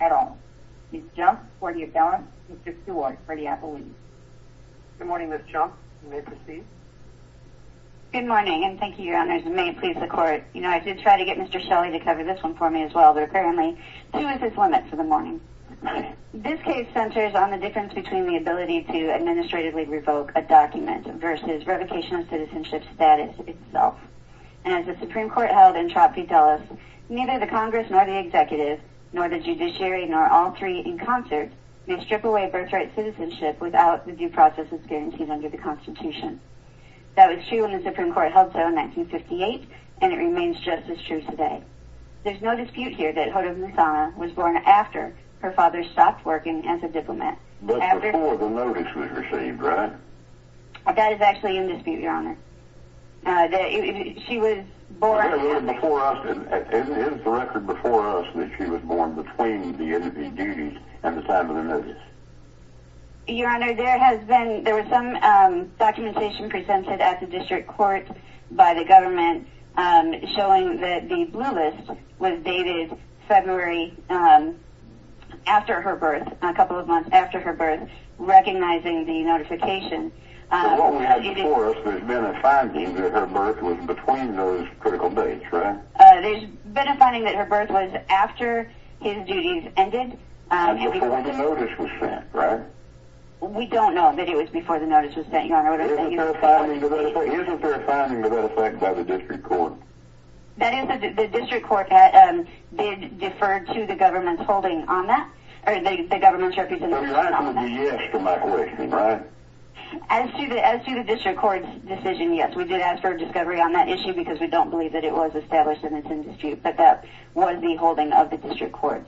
at all. Ms. Junk, for the appellant, Mr. Stewart, for the appellant. Good morning, Ms. Junk. You may proceed. Good morning, and thank you, Your Honors. May it please the Court. You know, I did try to get Mr. Shelley to cover this one for me as well, Thank you. This case centers on the difference between the ability to administratively revoke a document versus revocation of citizenship status itself. And as the Supreme Court held in Trot v. Dulles, neither the Congress nor the Executive, nor the Judiciary, nor all three in concert, may strip away birthright citizenship without the due process as guaranteed under the Constitution. That was true when the Supreme Court held so in 1958 and it remains just as true today. There's no dispute here that Hoda Muthana was born after her father stopped working as a diplomat. But before the notice was received, right? That is actually in dispute, Your Honor. Is the record before us that she was born between the NDP duties and the time of the notice? Your Honor, there was some documentation presented at the District Court by the government showing that the blue list was dated February after her birth, a couple of months after her birth, recognizing the notification. So what we have before us, there's been a finding that her birth was between those critical dates, right? There's been a finding that her birth was after his duties ended. Before the notice was sent, right? We don't know that it was before the notice was sent, Your Honor. Isn't there a finding to that effect by the District Court? The District Court did defer to the government's holding on that, or the government's representation on that. I mean, that would be yes to my question, right? As to the District Court's decision, yes. We did ask for a discovery on that issue because we don't believe that it was established in its indispute, but that was the holding of the District Court.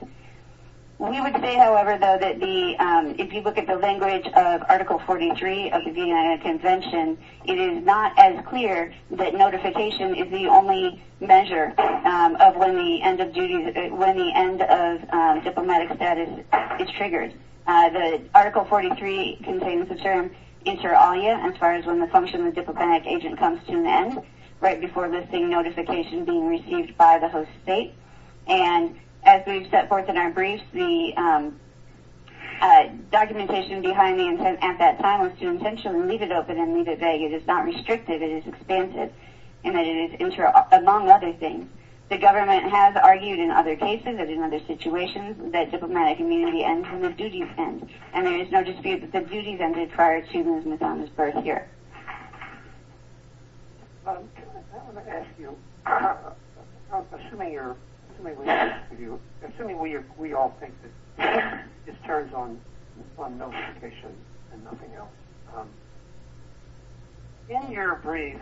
We would say, however, though, that if you look at the language of Article 43 of the Vietnam Convention, it is not as clear that notification is the only measure of when the end of diplomatic status is triggered. The Article 43 contains the term inter alia, as far as when the function of diplomatic agent comes to an end, right before listing notification being received by the host state. And as we've set forth in our briefs, the documentation behind the intent at that time was to intentionally leave it open and leave it vague. It is not restrictive. It is expansive, among other things. The government has argued in other cases and in other situations that diplomatic immunity ends when the duties end, and there is no dispute that the duties ended prior to Ms. Mazama's birth year. I want to ask you, assuming we all think that this turns on notification and nothing else, in your brief,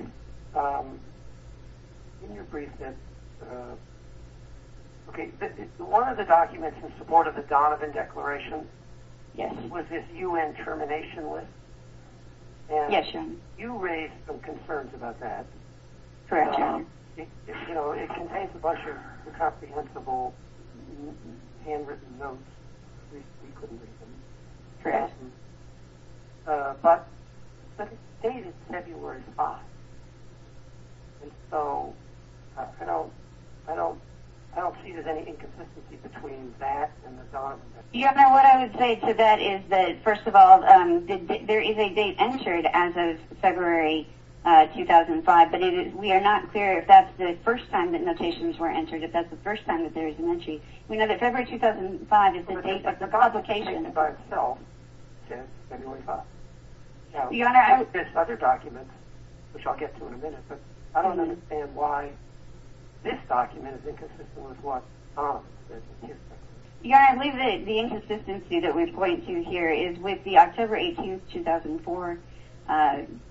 one of the documents in support of the Donovan Declaration was this U.N. termination list, and you raised some concerns about that. It contains a bunch of incomprehensible handwritten notes. We couldn't read them. But the date is February 5th. I don't see there's any inconsistency between that and the Donovan Declaration. What I would say to that is that, first of all, there is a date entered as of February 2005, but we are not clear if that's the first time that notations were entered, if that's the first time that there is an entry. We know that February 2005 is the date of the publication. But the Declaration itself says February 5th. There are other documents, which I'll get to in a minute, but I don't understand why this document is inconsistent with what Donovan says in here. Your Honor, I believe that the inconsistency that we point to here is with the October 18th, 2004,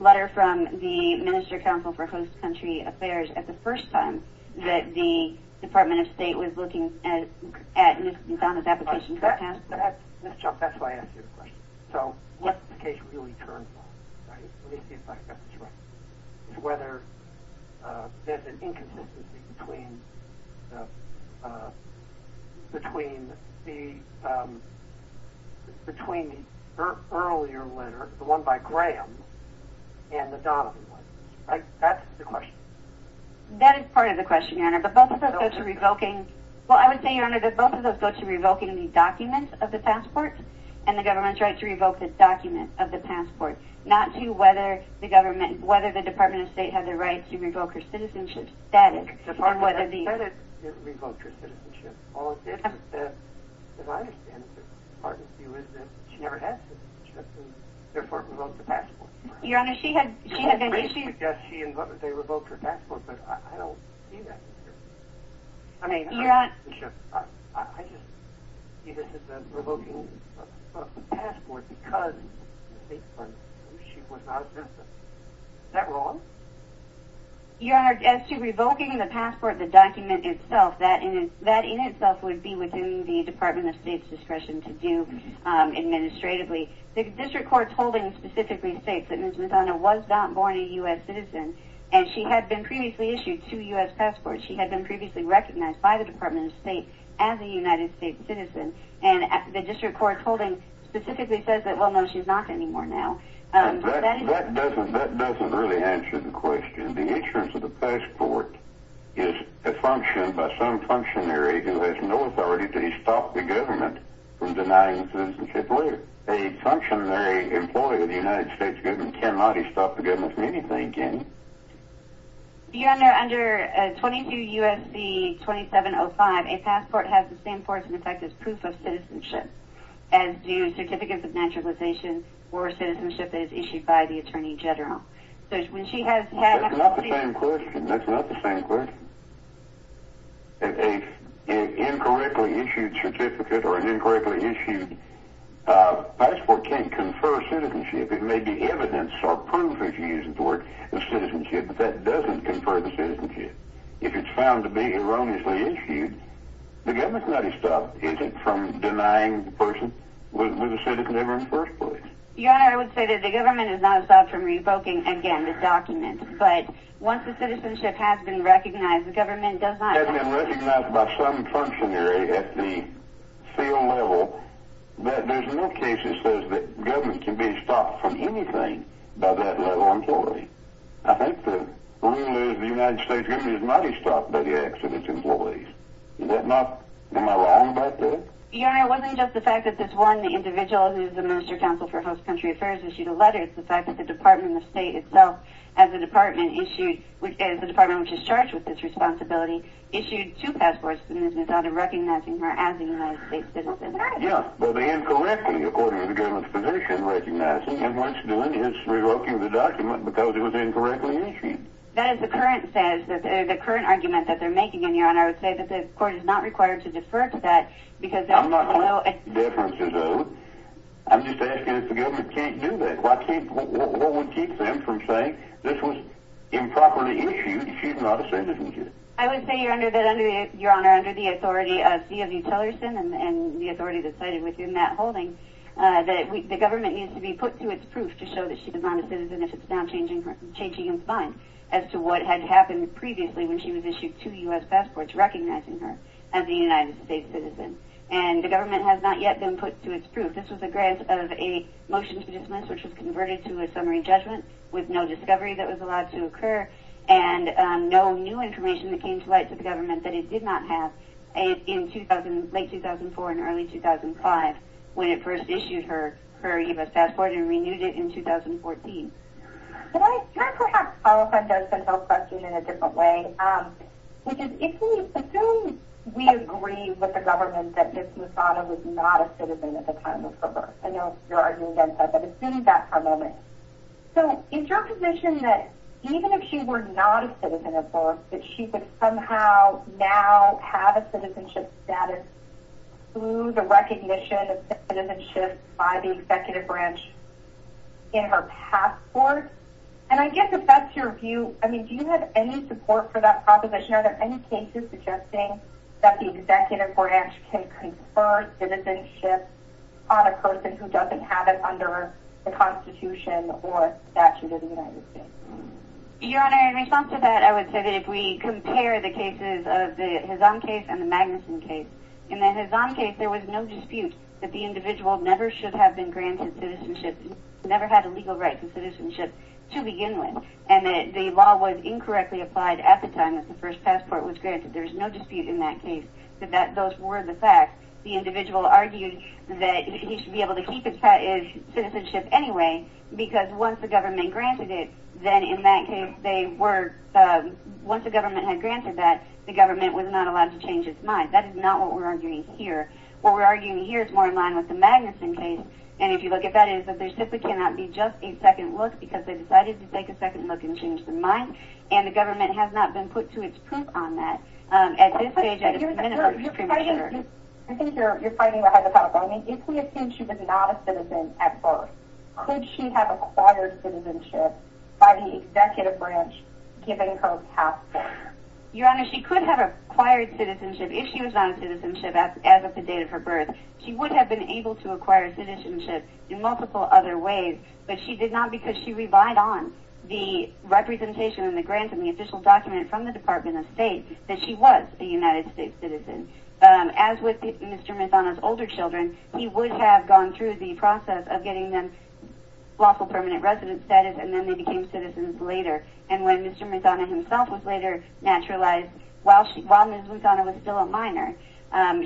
letter from the Minister Counsel for Host Country Affairs, at the first time that the Department of State was looking at Donovan's application for transfer. Ms. Chunk, that's why I asked you the question. So what the case really turns on is whether there's an inconsistency between the earlier letter, the one by Graham, and the Donovan one, right? That's the question. That is part of the question, Your Honor, but both of those go to revoking the document of the passport and the government's right to revoke the document of the passport, not to whether the Department of State had the right to revoke her citizenship. If the Department of State had said it, it revoked her citizenship. All it did was say, as I understand it, the Department's view is that she never had citizenship, and therefore it revoked the passport. Your Honor, she had been issued... I mean, her citizenship, I just... ...revoking the passport because she was not a citizen. Is that wrong? Your Honor, as to revoking the passport, the document itself, that in itself would be within the Department of State's discretion to do administratively. The district court's holding specifically states that Ms. Madonna was not born a U.S. citizen, and she had been previously issued two U.S. passports. She had been previously recognized by the Department of State as a United States citizen, and the district court's holding specifically says that, well, no, she's not anymore now. That doesn't really answer the question. The insurance of the passport is a function by some functionary who has no authority to stop the government from denying citizenship later. A functionary employee of the United States government cannot stop the government from anything, can he? Your Honor, under 22 U.S.C. 2705, a passport has the same force and effect as proof of citizenship, as do certificates of naturalization or citizenship that is issued by the attorney general. That's not the same question. An incorrectly issued certificate or an incorrectly issued passport can't confer citizenship. It may be evidence or proof, if you use the word, of citizenship, but that doesn't confer the citizenship. If it's found to be erroneously issued, the government cannot stop, is it, from denying the person was a citizen ever in the first place? Your Honor, I would say that the government is not stopped from revoking, again, the document. But once the citizenship has been recognized, the government does not have to stop. Has been recognized by some functionary at the field level, but there's no case that says that government can be stopped from anything by that level employee. I think the rule is the United States government is not stopped by the accident's employees. Is that not, am I wrong about that? Your Honor, it wasn't just the fact that this one individual, who is the Minister of Counsel for Host Country Affairs, issued a letter. It's the fact that the Department of State itself, as a department, which is charged with this responsibility, issued two passports, and this is out of recognizing her as a United States citizen. Yes, but incorrectly, according to the government's position, recognizing. And what it's doing is revoking the document because it was incorrectly issued. That is the current argument that they're making, Your Honor. And I would say that the court is not required to defer to that. I'm not calling for deferences, though. I'm just asking if the government can't do that. What would keep them from saying this was improperly issued? She's not a citizen, is she? I would say, Your Honor, under the authority of C.W. Tellerson and the authority that's cited within that holding, that the government needs to be put to its proof to show that she's not a citizen if it's not changing its mind as to what had happened previously when she was issued two U.S. passports recognizing her as a United States citizen. And the government has not yet been put to its proof. This was a grant of a motion to dismiss, which was converted to a summary judgment with no discovery that was allowed to occur and no new information that came to light to the government that it did not have in late 2004 and early 2005 when it first issued her U.S. passport and renewed it in 2014. Can I perhaps follow up on Josephine Hill's question in a different way? Because if we assume we agree with the government that Ms. Musano was not a citizen at the time of her birth, I know you're arguing against that, but assume that for a moment. So is your position that even if she were not a citizen at birth, that she would somehow now have a citizenship status through the recognition of citizenship by the executive branch in her passport? And I guess if that's your view, I mean, do you have any support for that proposition? Are there any cases suggesting that the executive branch can confer citizenship on a person who doesn't have it under the Constitution or statute of the United States? Your Honor, in response to that, I would say that if we compare the cases of the Hazam case and the Magnuson case, in the Hazam case there was no dispute that the individual never should have been granted citizenship, never had a legal right to citizenship to begin with, and that the law was incorrectly applied at the time that the first passport was granted. There was no dispute in that case that those were the facts. The individual argued that he should be able to keep his citizenship anyway because once the government granted it, then in that case they were, once the government had granted that, the government was not allowed to change its mind. That is not what we're arguing here. What we're arguing here is more in line with the Magnuson case, and if you look at that, it is that there simply cannot be just a second look because they decided to take a second look and change their mind, and the government has not been put to its proof on that. At this stage, at this minute, we're extremely sure. I think you're fighting ahead of time. I mean, if we assume she was not a citizen at birth, could she have acquired citizenship by the executive branch giving her a passport? Your Honor, she could have acquired citizenship, if she was not a citizenship as of the date of her birth. She would have been able to acquire citizenship in multiple other ways, but she did not because she relied on the representation and the grant and the official document from the Department of State that she was a United States citizen. As with Mr. Mezana's older children, he would have gone through the process of getting them lawful permanent resident status, and then they became citizens later. And when Mr. Mezana himself was later naturalized, while Ms. Mezana was still a minor,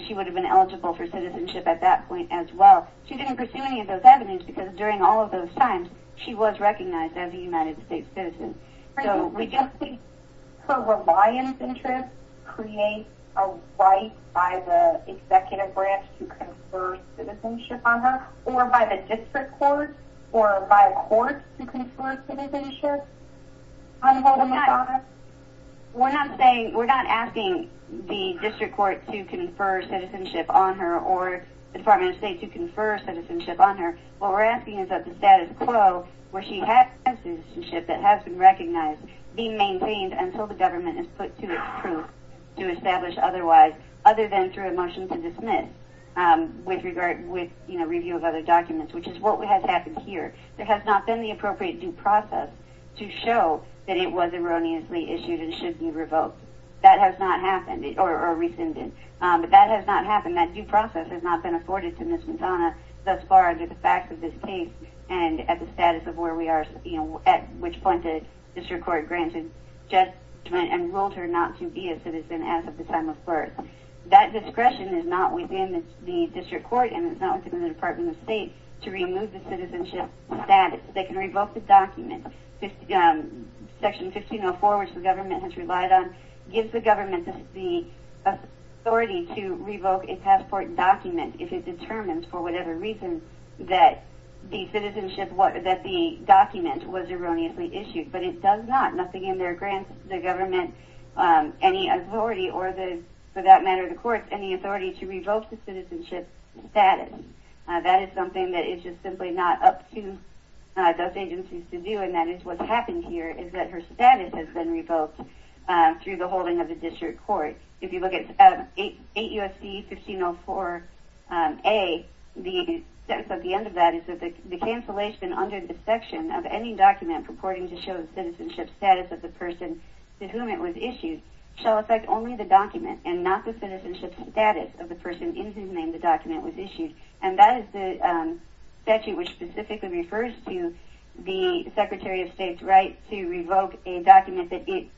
she would have been eligible for citizenship at that point as well. She didn't pursue any of those avenues because during all of those times, she was recognized as a United States citizen. So we just think her reliance interest creates a right by the executive branch to confer citizenship on her or by the district court or by courts to confer citizenship on Ms. Mezana? We're not asking the district court to confer citizenship on her or the Department of State to confer citizenship on her. What we're asking is that the status quo where she has citizenship that has been recognized be maintained until the government is put to its proof to establish otherwise, other than through a motion to dismiss with review of other documents, which is what has happened here. There has not been the appropriate due process to show that it was erroneously issued and should be revoked. That has not happened, or rescinded. But that has not happened, that due process has not been afforded to Ms. Mezana thus far under the facts of this case and at the status of where we are, at which point the district court granted judgment and ruled her not to be a citizen as of the time of birth. That discretion is not within the district court and it's not within the Department of State to remove the citizenship status. They can revoke the document. Section 1504, which the government has relied on, gives the government the authority to revoke a passport document if it determines, for whatever reason, that the document was erroneously issued. But it does not. Nothing in there grants the government any authority, or for that matter the courts, any authority to revoke the citizenship status. That is something that is just simply not up to those agencies to do and that is what's happened here is that her status has been revoked through the holding of the district court. If you look at 8 U.S.C. 1504A, the sentence at the end of that is that the cancellation under the section of any document purporting to show the citizenship status of the person to whom it was issued shall affect only the document and not the citizenship status of the person in whose name the document was issued. And that is the statute which specifically refers to the Secretary of State's right to revoke a document that it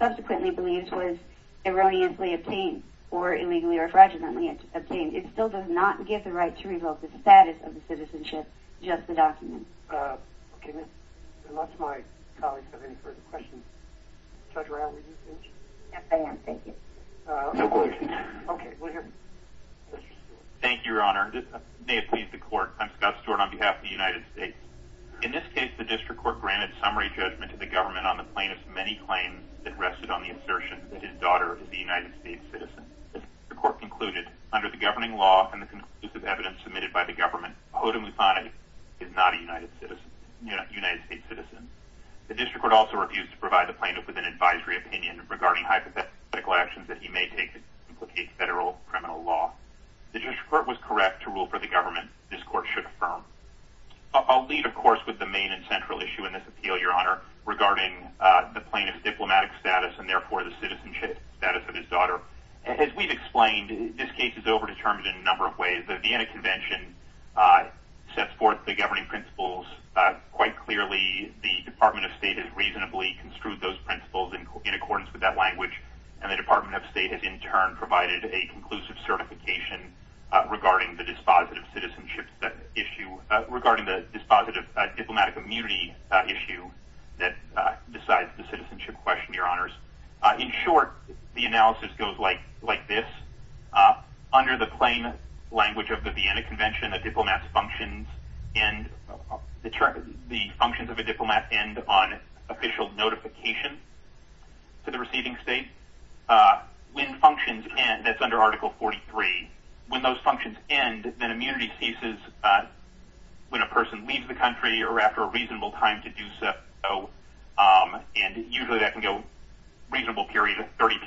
subsequently believes was erroneously obtained or illegally or fraudulently obtained. It still does not give the right to revoke the status of the citizenship, just the document. Okay, unless my colleagues have any further questions. Judge Brown, were you finished? Yes, I am, thank you. No questions. Okay, we'll hear from Mr. Stewart. Thank you, Your Honor. May it please the court, I'm Scott Stewart on behalf of the United States. In this case, the district court granted summary judgment to the government on the plaintiff's many claims that rested on the assertion that his daughter is a United States citizen. The court concluded, under the governing law and the conclusive evidence submitted by the government, Hoda Muthana is not a United States citizen. The district court also refused to provide the plaintiff with an advisory opinion regarding hypothetical actions that he may take to implicate federal criminal law. The district court was correct to rule for the government this court should affirm. I'll lead, of course, with the main and central issue in this appeal, Your Honor, regarding the plaintiff's diplomatic status and, therefore, the citizenship status of his daughter. As we've explained, this case is over-determined in a number of ways. The Vienna Convention sets forth the governing principles quite clearly. The Department of State has reasonably construed those principles and provided a conclusive certification regarding the dispositive citizenship issue regarding the dispositive diplomatic immunity issue that decides the citizenship question, Your Honors. In short, the analysis goes like this. Under the plain language of the Vienna Convention, the functions of a diplomat end on official notification to the receiving state. When functions end, that's under Article 43, when those functions end, then immunity ceases when a person leaves the country or after a reasonable time to do so, and usually that can go a reasonable period of 30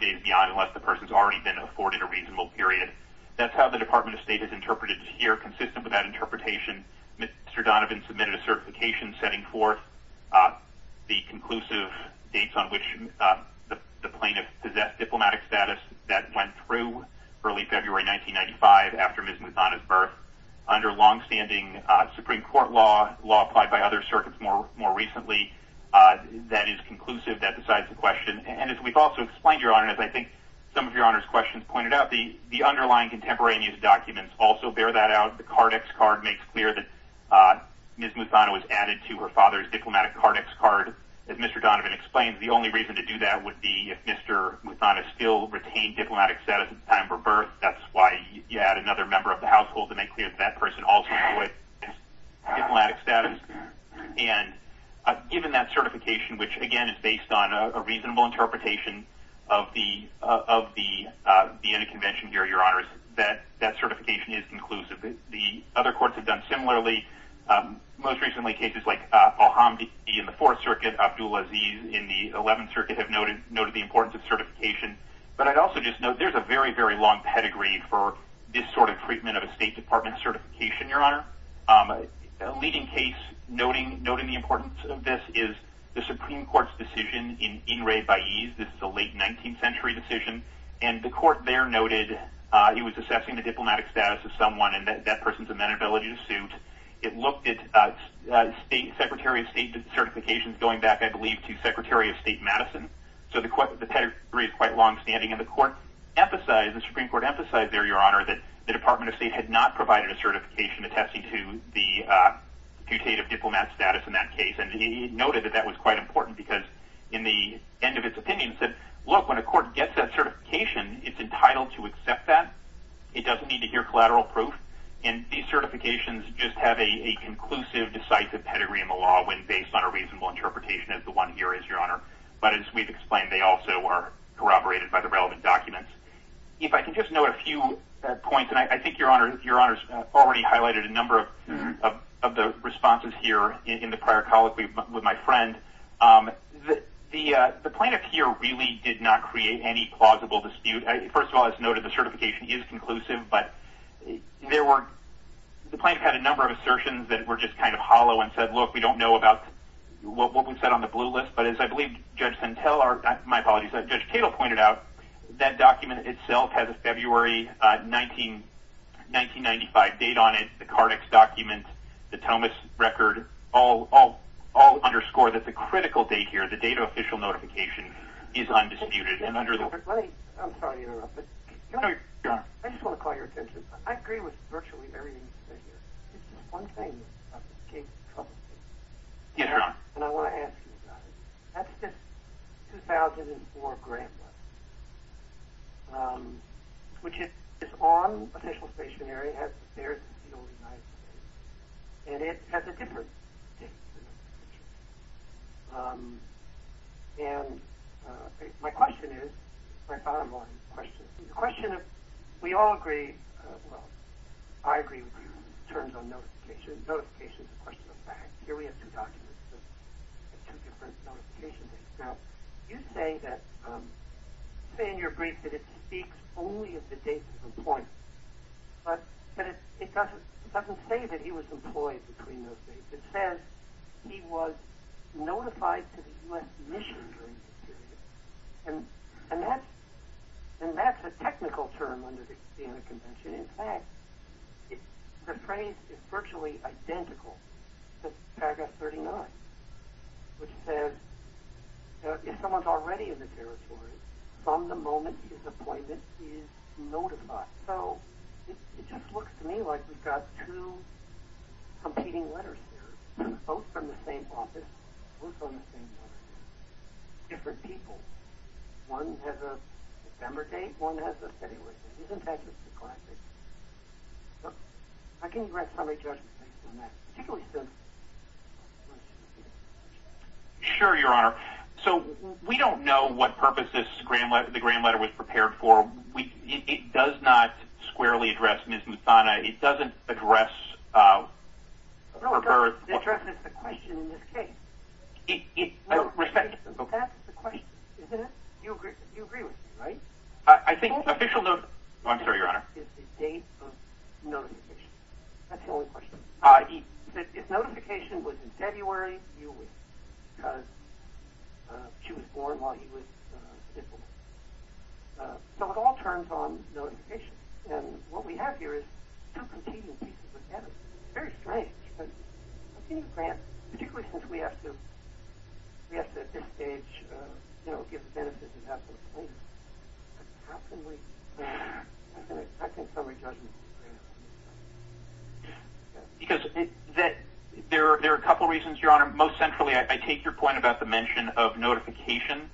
days beyond unless the person's already been afforded a reasonable period. That's how the Department of State has interpreted it here, consistent with that interpretation. Mr. Donovan submitted a certification setting forth the conclusive dates on which the plaintiff possessed diplomatic status that went through early February 1995 after Ms. Muthana's birth. Under longstanding Supreme Court law, law applied by other circuits more recently, that is conclusive, that decides the question. And as we've also explained, Your Honor, and as I think some of Your Honor's questions pointed out, the underlying contemporaneous documents also bear that out. The Cardex card makes clear that Ms. Muthana was added to her father's diplomatic Cardex card. As Mr. Donovan explained, the only reason to do that would be if Mr. Muthana still retained diplomatic status at the time of her birth. That's why you add another member of the household to make clear that that person also had diplomatic status. And given that certification, which, again, is based on a reasonable interpretation of the end of convention here, Your Honors, that certification is conclusive. The other courts have done similarly. Most recently, cases like Al-Hamdi in the Fourth Circuit, Abdul Aziz in the Eleventh Circuit have noted the importance of certification. But I'd also just note there's a very, very long pedigree for this sort of treatment of a State Department certification, Your Honor. A leading case noting the importance of this is the Supreme Court's decision in Inrei Baez. This is a late 19th century decision. And the court there noted he was assessing the diplomatic status of someone and that person's amenability to suit. It looked at Secretary of State certifications going back, I believe, to Secretary of State Madison. So the pedigree is quite longstanding. And the Supreme Court emphasized there, Your Honor, that the Department of State had not provided a certification attesting to the putative diplomat status in that case. And it noted that that was quite important because, in the end of its opinion, it said, look, when a court gets that certification, it's entitled to accept that. It doesn't need to hear collateral proof. And these certifications just have a conclusive, decisive pedigree in the law when based on a reasonable interpretation, as the one here is, Your Honor. But as we've explained, they also are corroborated by the relevant documents. If I can just note a few points, and I think Your Honor's already highlighted a number of the responses here in the prior colloquy with my friend. The plaintiff here really did not create any plausible dispute. First of all, as noted, the certification is conclusive, but the plaintiff had a number of assertions that were just kind of hollow and said, look, we don't know about what we've said on the blue list. But as I believe Judge Santel or, my apologies, Judge Cato pointed out, that document itself has a February 1995 date on it, the Cardex document, the Thomas record, all underscore that the critical date here, the date of official notification, is undisputed. I'm sorry to interrupt, but I just want to call your attention. I agree with virtually everything you've said here. There's just one thing that came to trouble for me. Yes, Your Honor. And I want to ask you about it. That's this 2004 grant letter, which is on official stationery, has the stairs that seal the United States, and it has a different date. And my question is, my bottom line question, the question of, we all agree, well, I agree with you in terms of notification. Notification is a question of fact. Here we have two documents with two different notification dates. Now, you say in your brief that it speaks only of the date of employment, but it doesn't say that he was employed between those dates. It says he was notified to the U.S. mission during this period. And that's a technical term under the Vienna Convention. In fact, the phrase is virtually identical to paragraph 39, which says, if someone's already in the territory, from the moment his appointment is notified. So it just looks to me like we've got two competing letters here, both from the same office, both on the same letter. Different people. One has a December date, one has a February date. Isn't that just classic? How can you grant summary judgment based on that, particularly since ______? Sure, Your Honor. So we don't know what purpose this grant letter was prepared for. It does not squarely address Ms. Muthana. It doesn't address her birth. No, it doesn't address the question in this case. Respect. That's the question, isn't it? You agree with me, right? I think official ______. I'm sorry, Your Honor. It's the date of notification. That's the only question. If notification was in February, you would, because she was born while he was ______. So it all turns on notification. And what we have here is two competing pieces of evidence. It's very strange. How can you grant, particularly since we have to, at this stage, give the benefit of the doubt to the plaintiff, how can we grant a summary judgment? Because there are a couple reasons, Your Honor. Most centrally, I take your point about the mention of notification,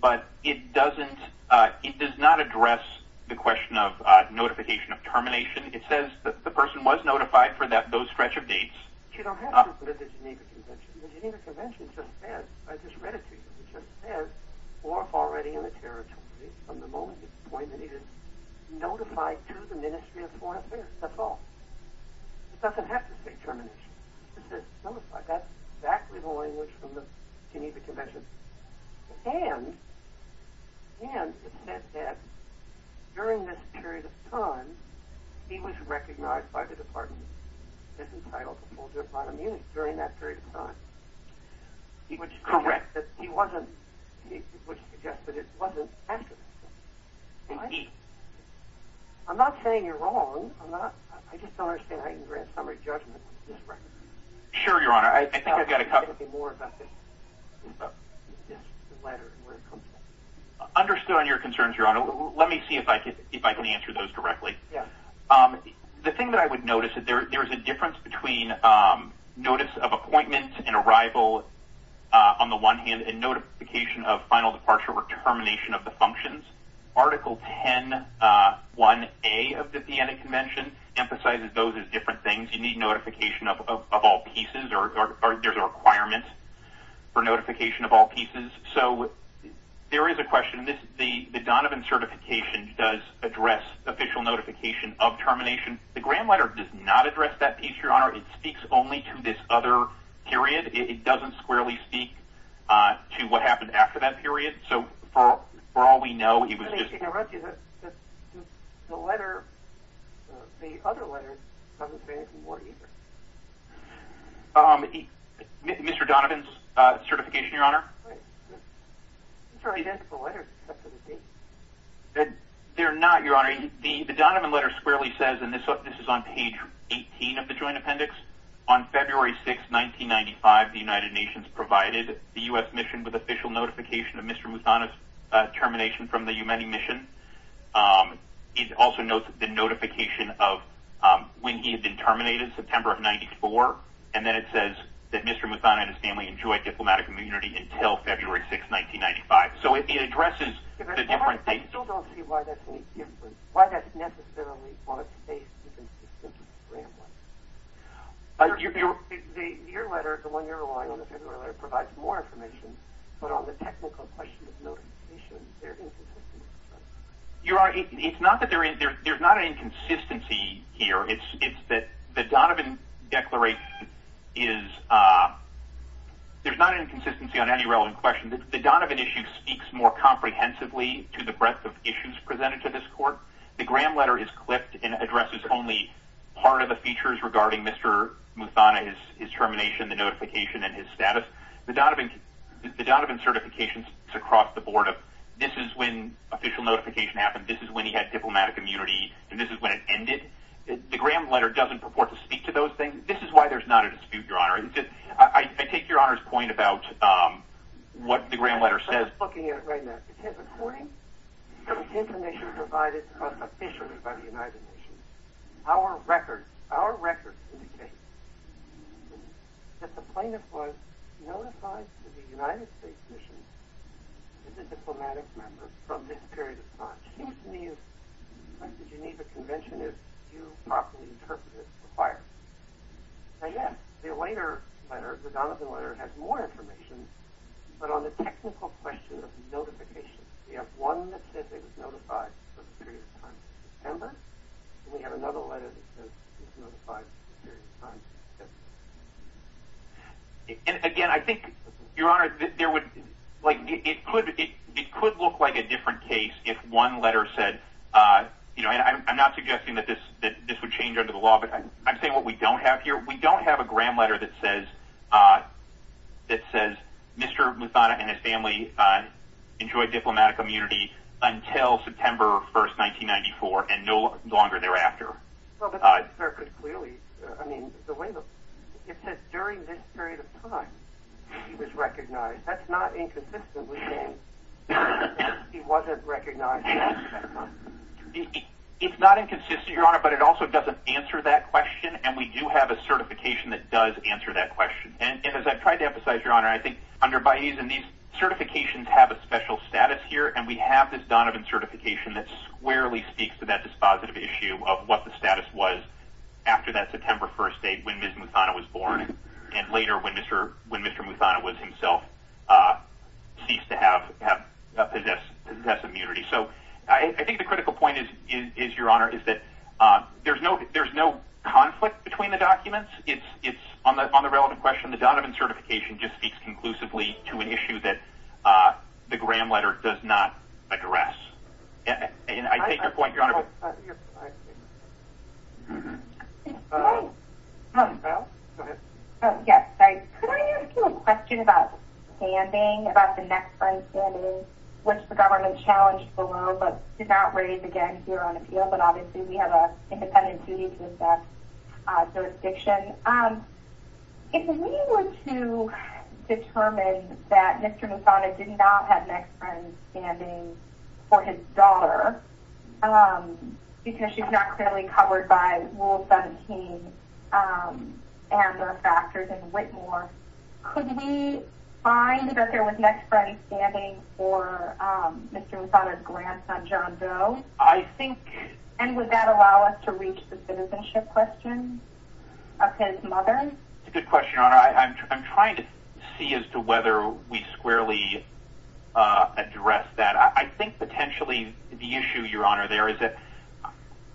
but it does not address the question of notification of termination. It says that the person was notified for those stretch of dates. You don't have to put it at the Geneva Convention. The Geneva Convention just says, I just read it to you, it just says, or already in the territory, from the moment he was appointed, he was notified to the Ministry of Foreign Affairs. That's all. It doesn't have to say termination. It just says notified. That's exactly the language from the Geneva Convention. And it said that during this period of time, he was recognized by the Department of Disentitled Composers of Modern Music during that period of time. Correct. It would suggest that it wasn't after this. I'm not saying you're wrong. I just don't understand how you can grant a summary judgment on this record. Sure, Your Honor. I think I've got a couple. Understood on your concerns, Your Honor. Let me see if I can answer those directly. The thing that I would notice, there is a difference between notice of appointment and arrival on the one hand and notification of final departure or termination of the functions. Article 10.1a of the Vienna Convention emphasizes those as different things. You need notification of all pieces, or there's a requirement for notification of all pieces. So there is a question. The Donovan Certification does address official notification of termination. The Graham Letter does not address that piece, Your Honor. It speaks only to this other period. It doesn't squarely speak to what happened after that period. So for all we know, he was just… Let me interrupt you. The letter, the other letter, doesn't say anything more either. Mr. Donovan's certification, Your Honor. These are identical letters. They're not, Your Honor. The Donovan Letter squarely says, and this is on page 18 of the Joint Appendix, on February 6, 1995, the United Nations provided the U.S. mission with official notification of Mr. Muthana's termination from the Yemeni mission. It also notes the notification of when he had been terminated, September of 1994, and then it says that Mr. Muthana and his family enjoyed diplomatic immunity until February 6, 1995. So it addresses the different things. I still don't see why that's any different, why that's necessarily what it states is inconsistent with the Graham Letter. Your letter, the one you're relying on, the February letter, provides more information, but on the technical question of notification, they're inconsistent with each other. Your Honor, it's not that there's not an inconsistency here. It's that the Donovan Declaration is – there's not an inconsistency on any relevant question. The Donovan issue speaks more comprehensively to the breadth of issues presented to this court. The Graham Letter is clipped and addresses only part of the features regarding Mr. Muthana, his termination, the notification, and his status. The Donovan certification is across the board of this is when official notification happened, this is when he had diplomatic immunity, and this is when it ended. The Graham Letter doesn't purport to speak to those things. This is why there's not a dispute, Your Honor. I take Your Honor's point about what the Graham Letter says. I'm just looking at it right now. Because according to the information provided to us officially by the United Nations, our records indicate that the plaintiff was notified to the United States Commission as a diplomatic member from this period of time. It seems to me like the Geneva Convention, if you properly interpret it, requires. Now, yes, the later letter, the Donovan Letter, has more information, but on the technical question of notification, we have one that says he was notified for the period of time since December, and we have another letter that says he was notified for the period of time since December. Again, I think, Your Honor, it could look like a different case if one letter said, and I'm not suggesting that this would change under the law, but I'm saying what we don't have here. We don't have a Graham Letter that says Mr. Muthana and his family enjoyed diplomatic immunity until September 1, 1994, and no longer thereafter. Well, but that's very clearly. I mean, it says during this period of time he was recognized. That's not inconsistently saying he wasn't recognized. It's not inconsistent, Your Honor, but it also doesn't answer that question, and we do have a certification that does answer that question. And as I've tried to emphasize, Your Honor, I think under Baez, and these certifications have a special status here, and we have this Donovan certification that squarely speaks to that dispositive issue of what the status was after that September 1 date when Ms. Muthana was born, and later when Mr. Muthana was himself ceased to have possessive immunity. So I think the critical point is, Your Honor, is that there's no conflict between the documents. It's on the relevant question. The Donovan certification just speaks conclusively to an issue that the Graham Letter does not address. And I take your point, Your Honor. Oh, you're fine. Val, go ahead. Yes. Could I ask you a question about standing, about the next friend standing, which the government challenged below but did not raise again here on appeal, but obviously we have an independent duty to assess jurisdiction. If we were to determine that Mr. Muthana did not have next friend standing for his daughter because she's not clearly covered by Rule 17 and the factors in Whitmore, could we find that there was next friend standing for Mr. Muthana's grandson, John Doe? And would that allow us to reach the citizenship question of his mother? That's a good question, Your Honor. I'm trying to see as to whether we squarely address that. I think potentially the issue, Your Honor, there is that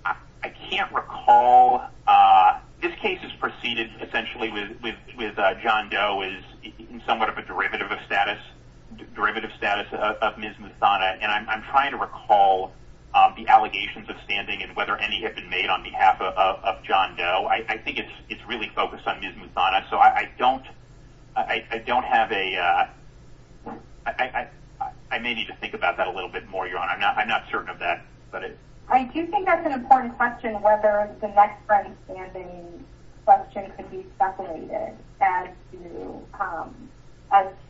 I can't recall. This case is preceded essentially with John Doe is somewhat of a derivative of status, derivative status of Ms. Muthana. And I'm trying to recall the allegations of standing and whether any have been made on behalf of John Doe. I think it's really focused on Ms. Muthana. So I don't have a – I may need to think about that a little bit more, Your Honor. I'm not certain of that. I do think that's an important question, whether the next friend standing question could be speculated as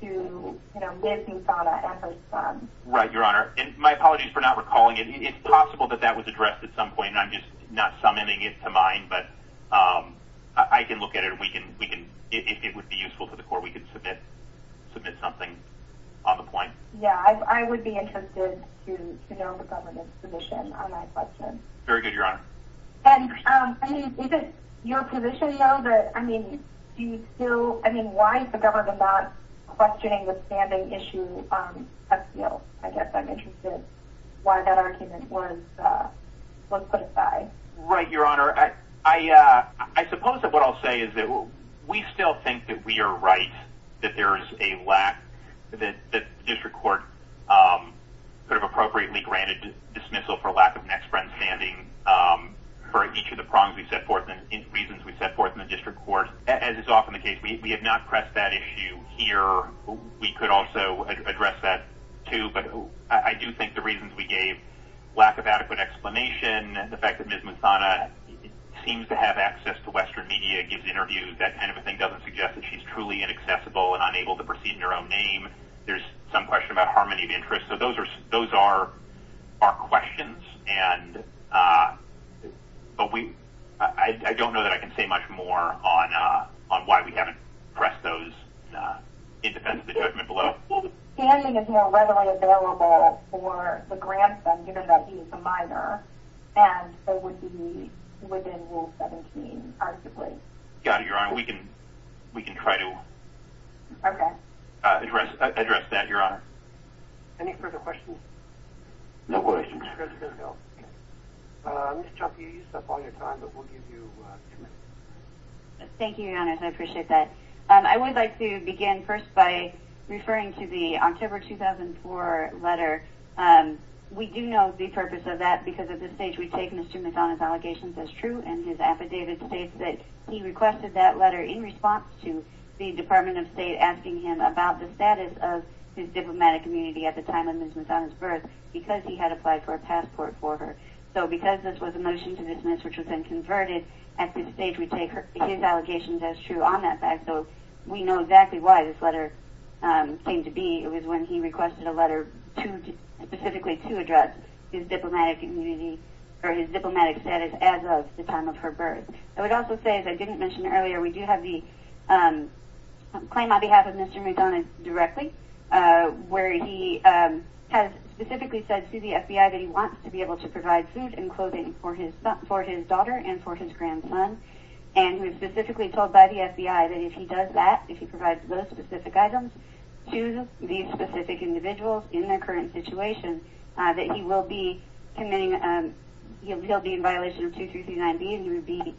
to Ms. Muthana and her son. Right, Your Honor. And my apologies for not recalling it. It's possible that that was addressed at some point, and I'm just not summoning it to mind. But I can look at it. If it would be useful to the Court, we could submit something on the point. Yeah, I would be interested to know the government's position on that question. Very good, Your Honor. And is it your position, though, that – I mean, do you still – I guess I'm interested why that argument was put aside. Right, Your Honor. I suppose that what I'll say is that we still think that we are right, that there is a lack – that the district court could have appropriately granted dismissal for lack of next friend standing for each of the reasons we set forth in the district court. As is often the case, we have not pressed that issue here. We could also address that, too. But I do think the reasons we gave – lack of adequate explanation, the fact that Ms. Muthana seems to have access to Western media, gives interviews, that kind of a thing doesn't suggest that she's truly inaccessible and unable to proceed in her own name. There's some question about harmony of interests. So those are questions. But we – I don't know that I can say much more on why we haven't pressed those in defense of the judgment below. Standing is now readily available for the grandson, given that he is a minor, and so would be within Rule 17, arguably. Got it, Your Honor. We can try to address that, Your Honor. Any further questions? No questions. Ms. Chuck, you used up all your time, but we'll give you two minutes. Thank you, Your Honor. I appreciate that. I would like to begin first by referring to the October 2004 letter. We do know the purpose of that because at this stage we take Ms. Muthana's allegations as true and his affidavit states that he requested that letter in response to the Department of State asking him about the status of his diplomatic community at the time of Ms. Muthana's birth because he had applied for a passport for her. So because this was a motion to dismiss which was then converted, at this stage we take his allegations as true on that fact. So we know exactly why this letter came to be. It was when he requested a letter specifically to address his diplomatic community or his diplomatic status as of the time of her birth. I would also say, as I didn't mention earlier, we do have the claim on behalf of Mr. Muthana directly where he has specifically said to the FBI that he wants to be able to provide food and clothing for his daughter and for his grandson, and he was specifically told by the FBI that if he does that, if he provides those specific items to these specific individuals in their current situation, that he will be committing, he'll be in violation of 2339B and he would be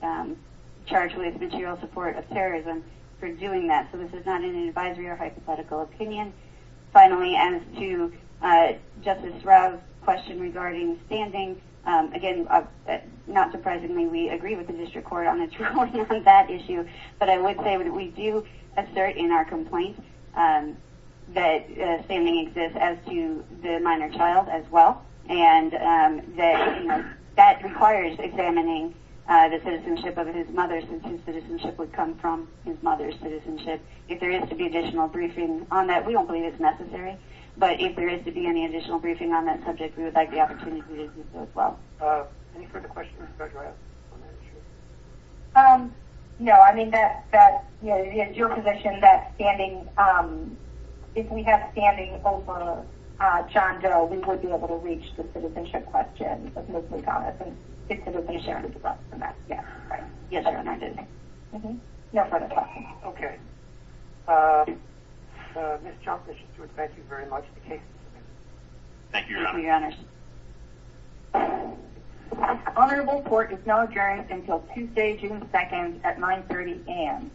charged with material support of terrorism for doing that. So this is not an advisory or hypothetical opinion. Finally, as to Justice Rao's question regarding standing, again, not surprisingly we agree with the district court on its ruling on that issue, but I would say that we do assert in our complaint that standing exists as to the minor child as well, and that requires examining the citizenship of his mother since his citizenship would come from his mother's citizenship. If there is to be additional briefing on that, we don't believe it's necessary, but if there is to be any additional briefing on that subject, we would like the opportunity to do so as well. Any further questions for Judge Rao on that issue? No, I mean, it's your position that if we have standing over John Doe, we would be able to reach the citizenship question of Ms. McDonough, and it could have been shared with us on that. Yes, Your Honor, I did. No further questions. Okay. Ms. Johnson, thank you very much for the case. Thank you, Your Honor. Thank you, Your Honor. This honorable court is now adjourned until Tuesday, June 2nd at 930 a.m.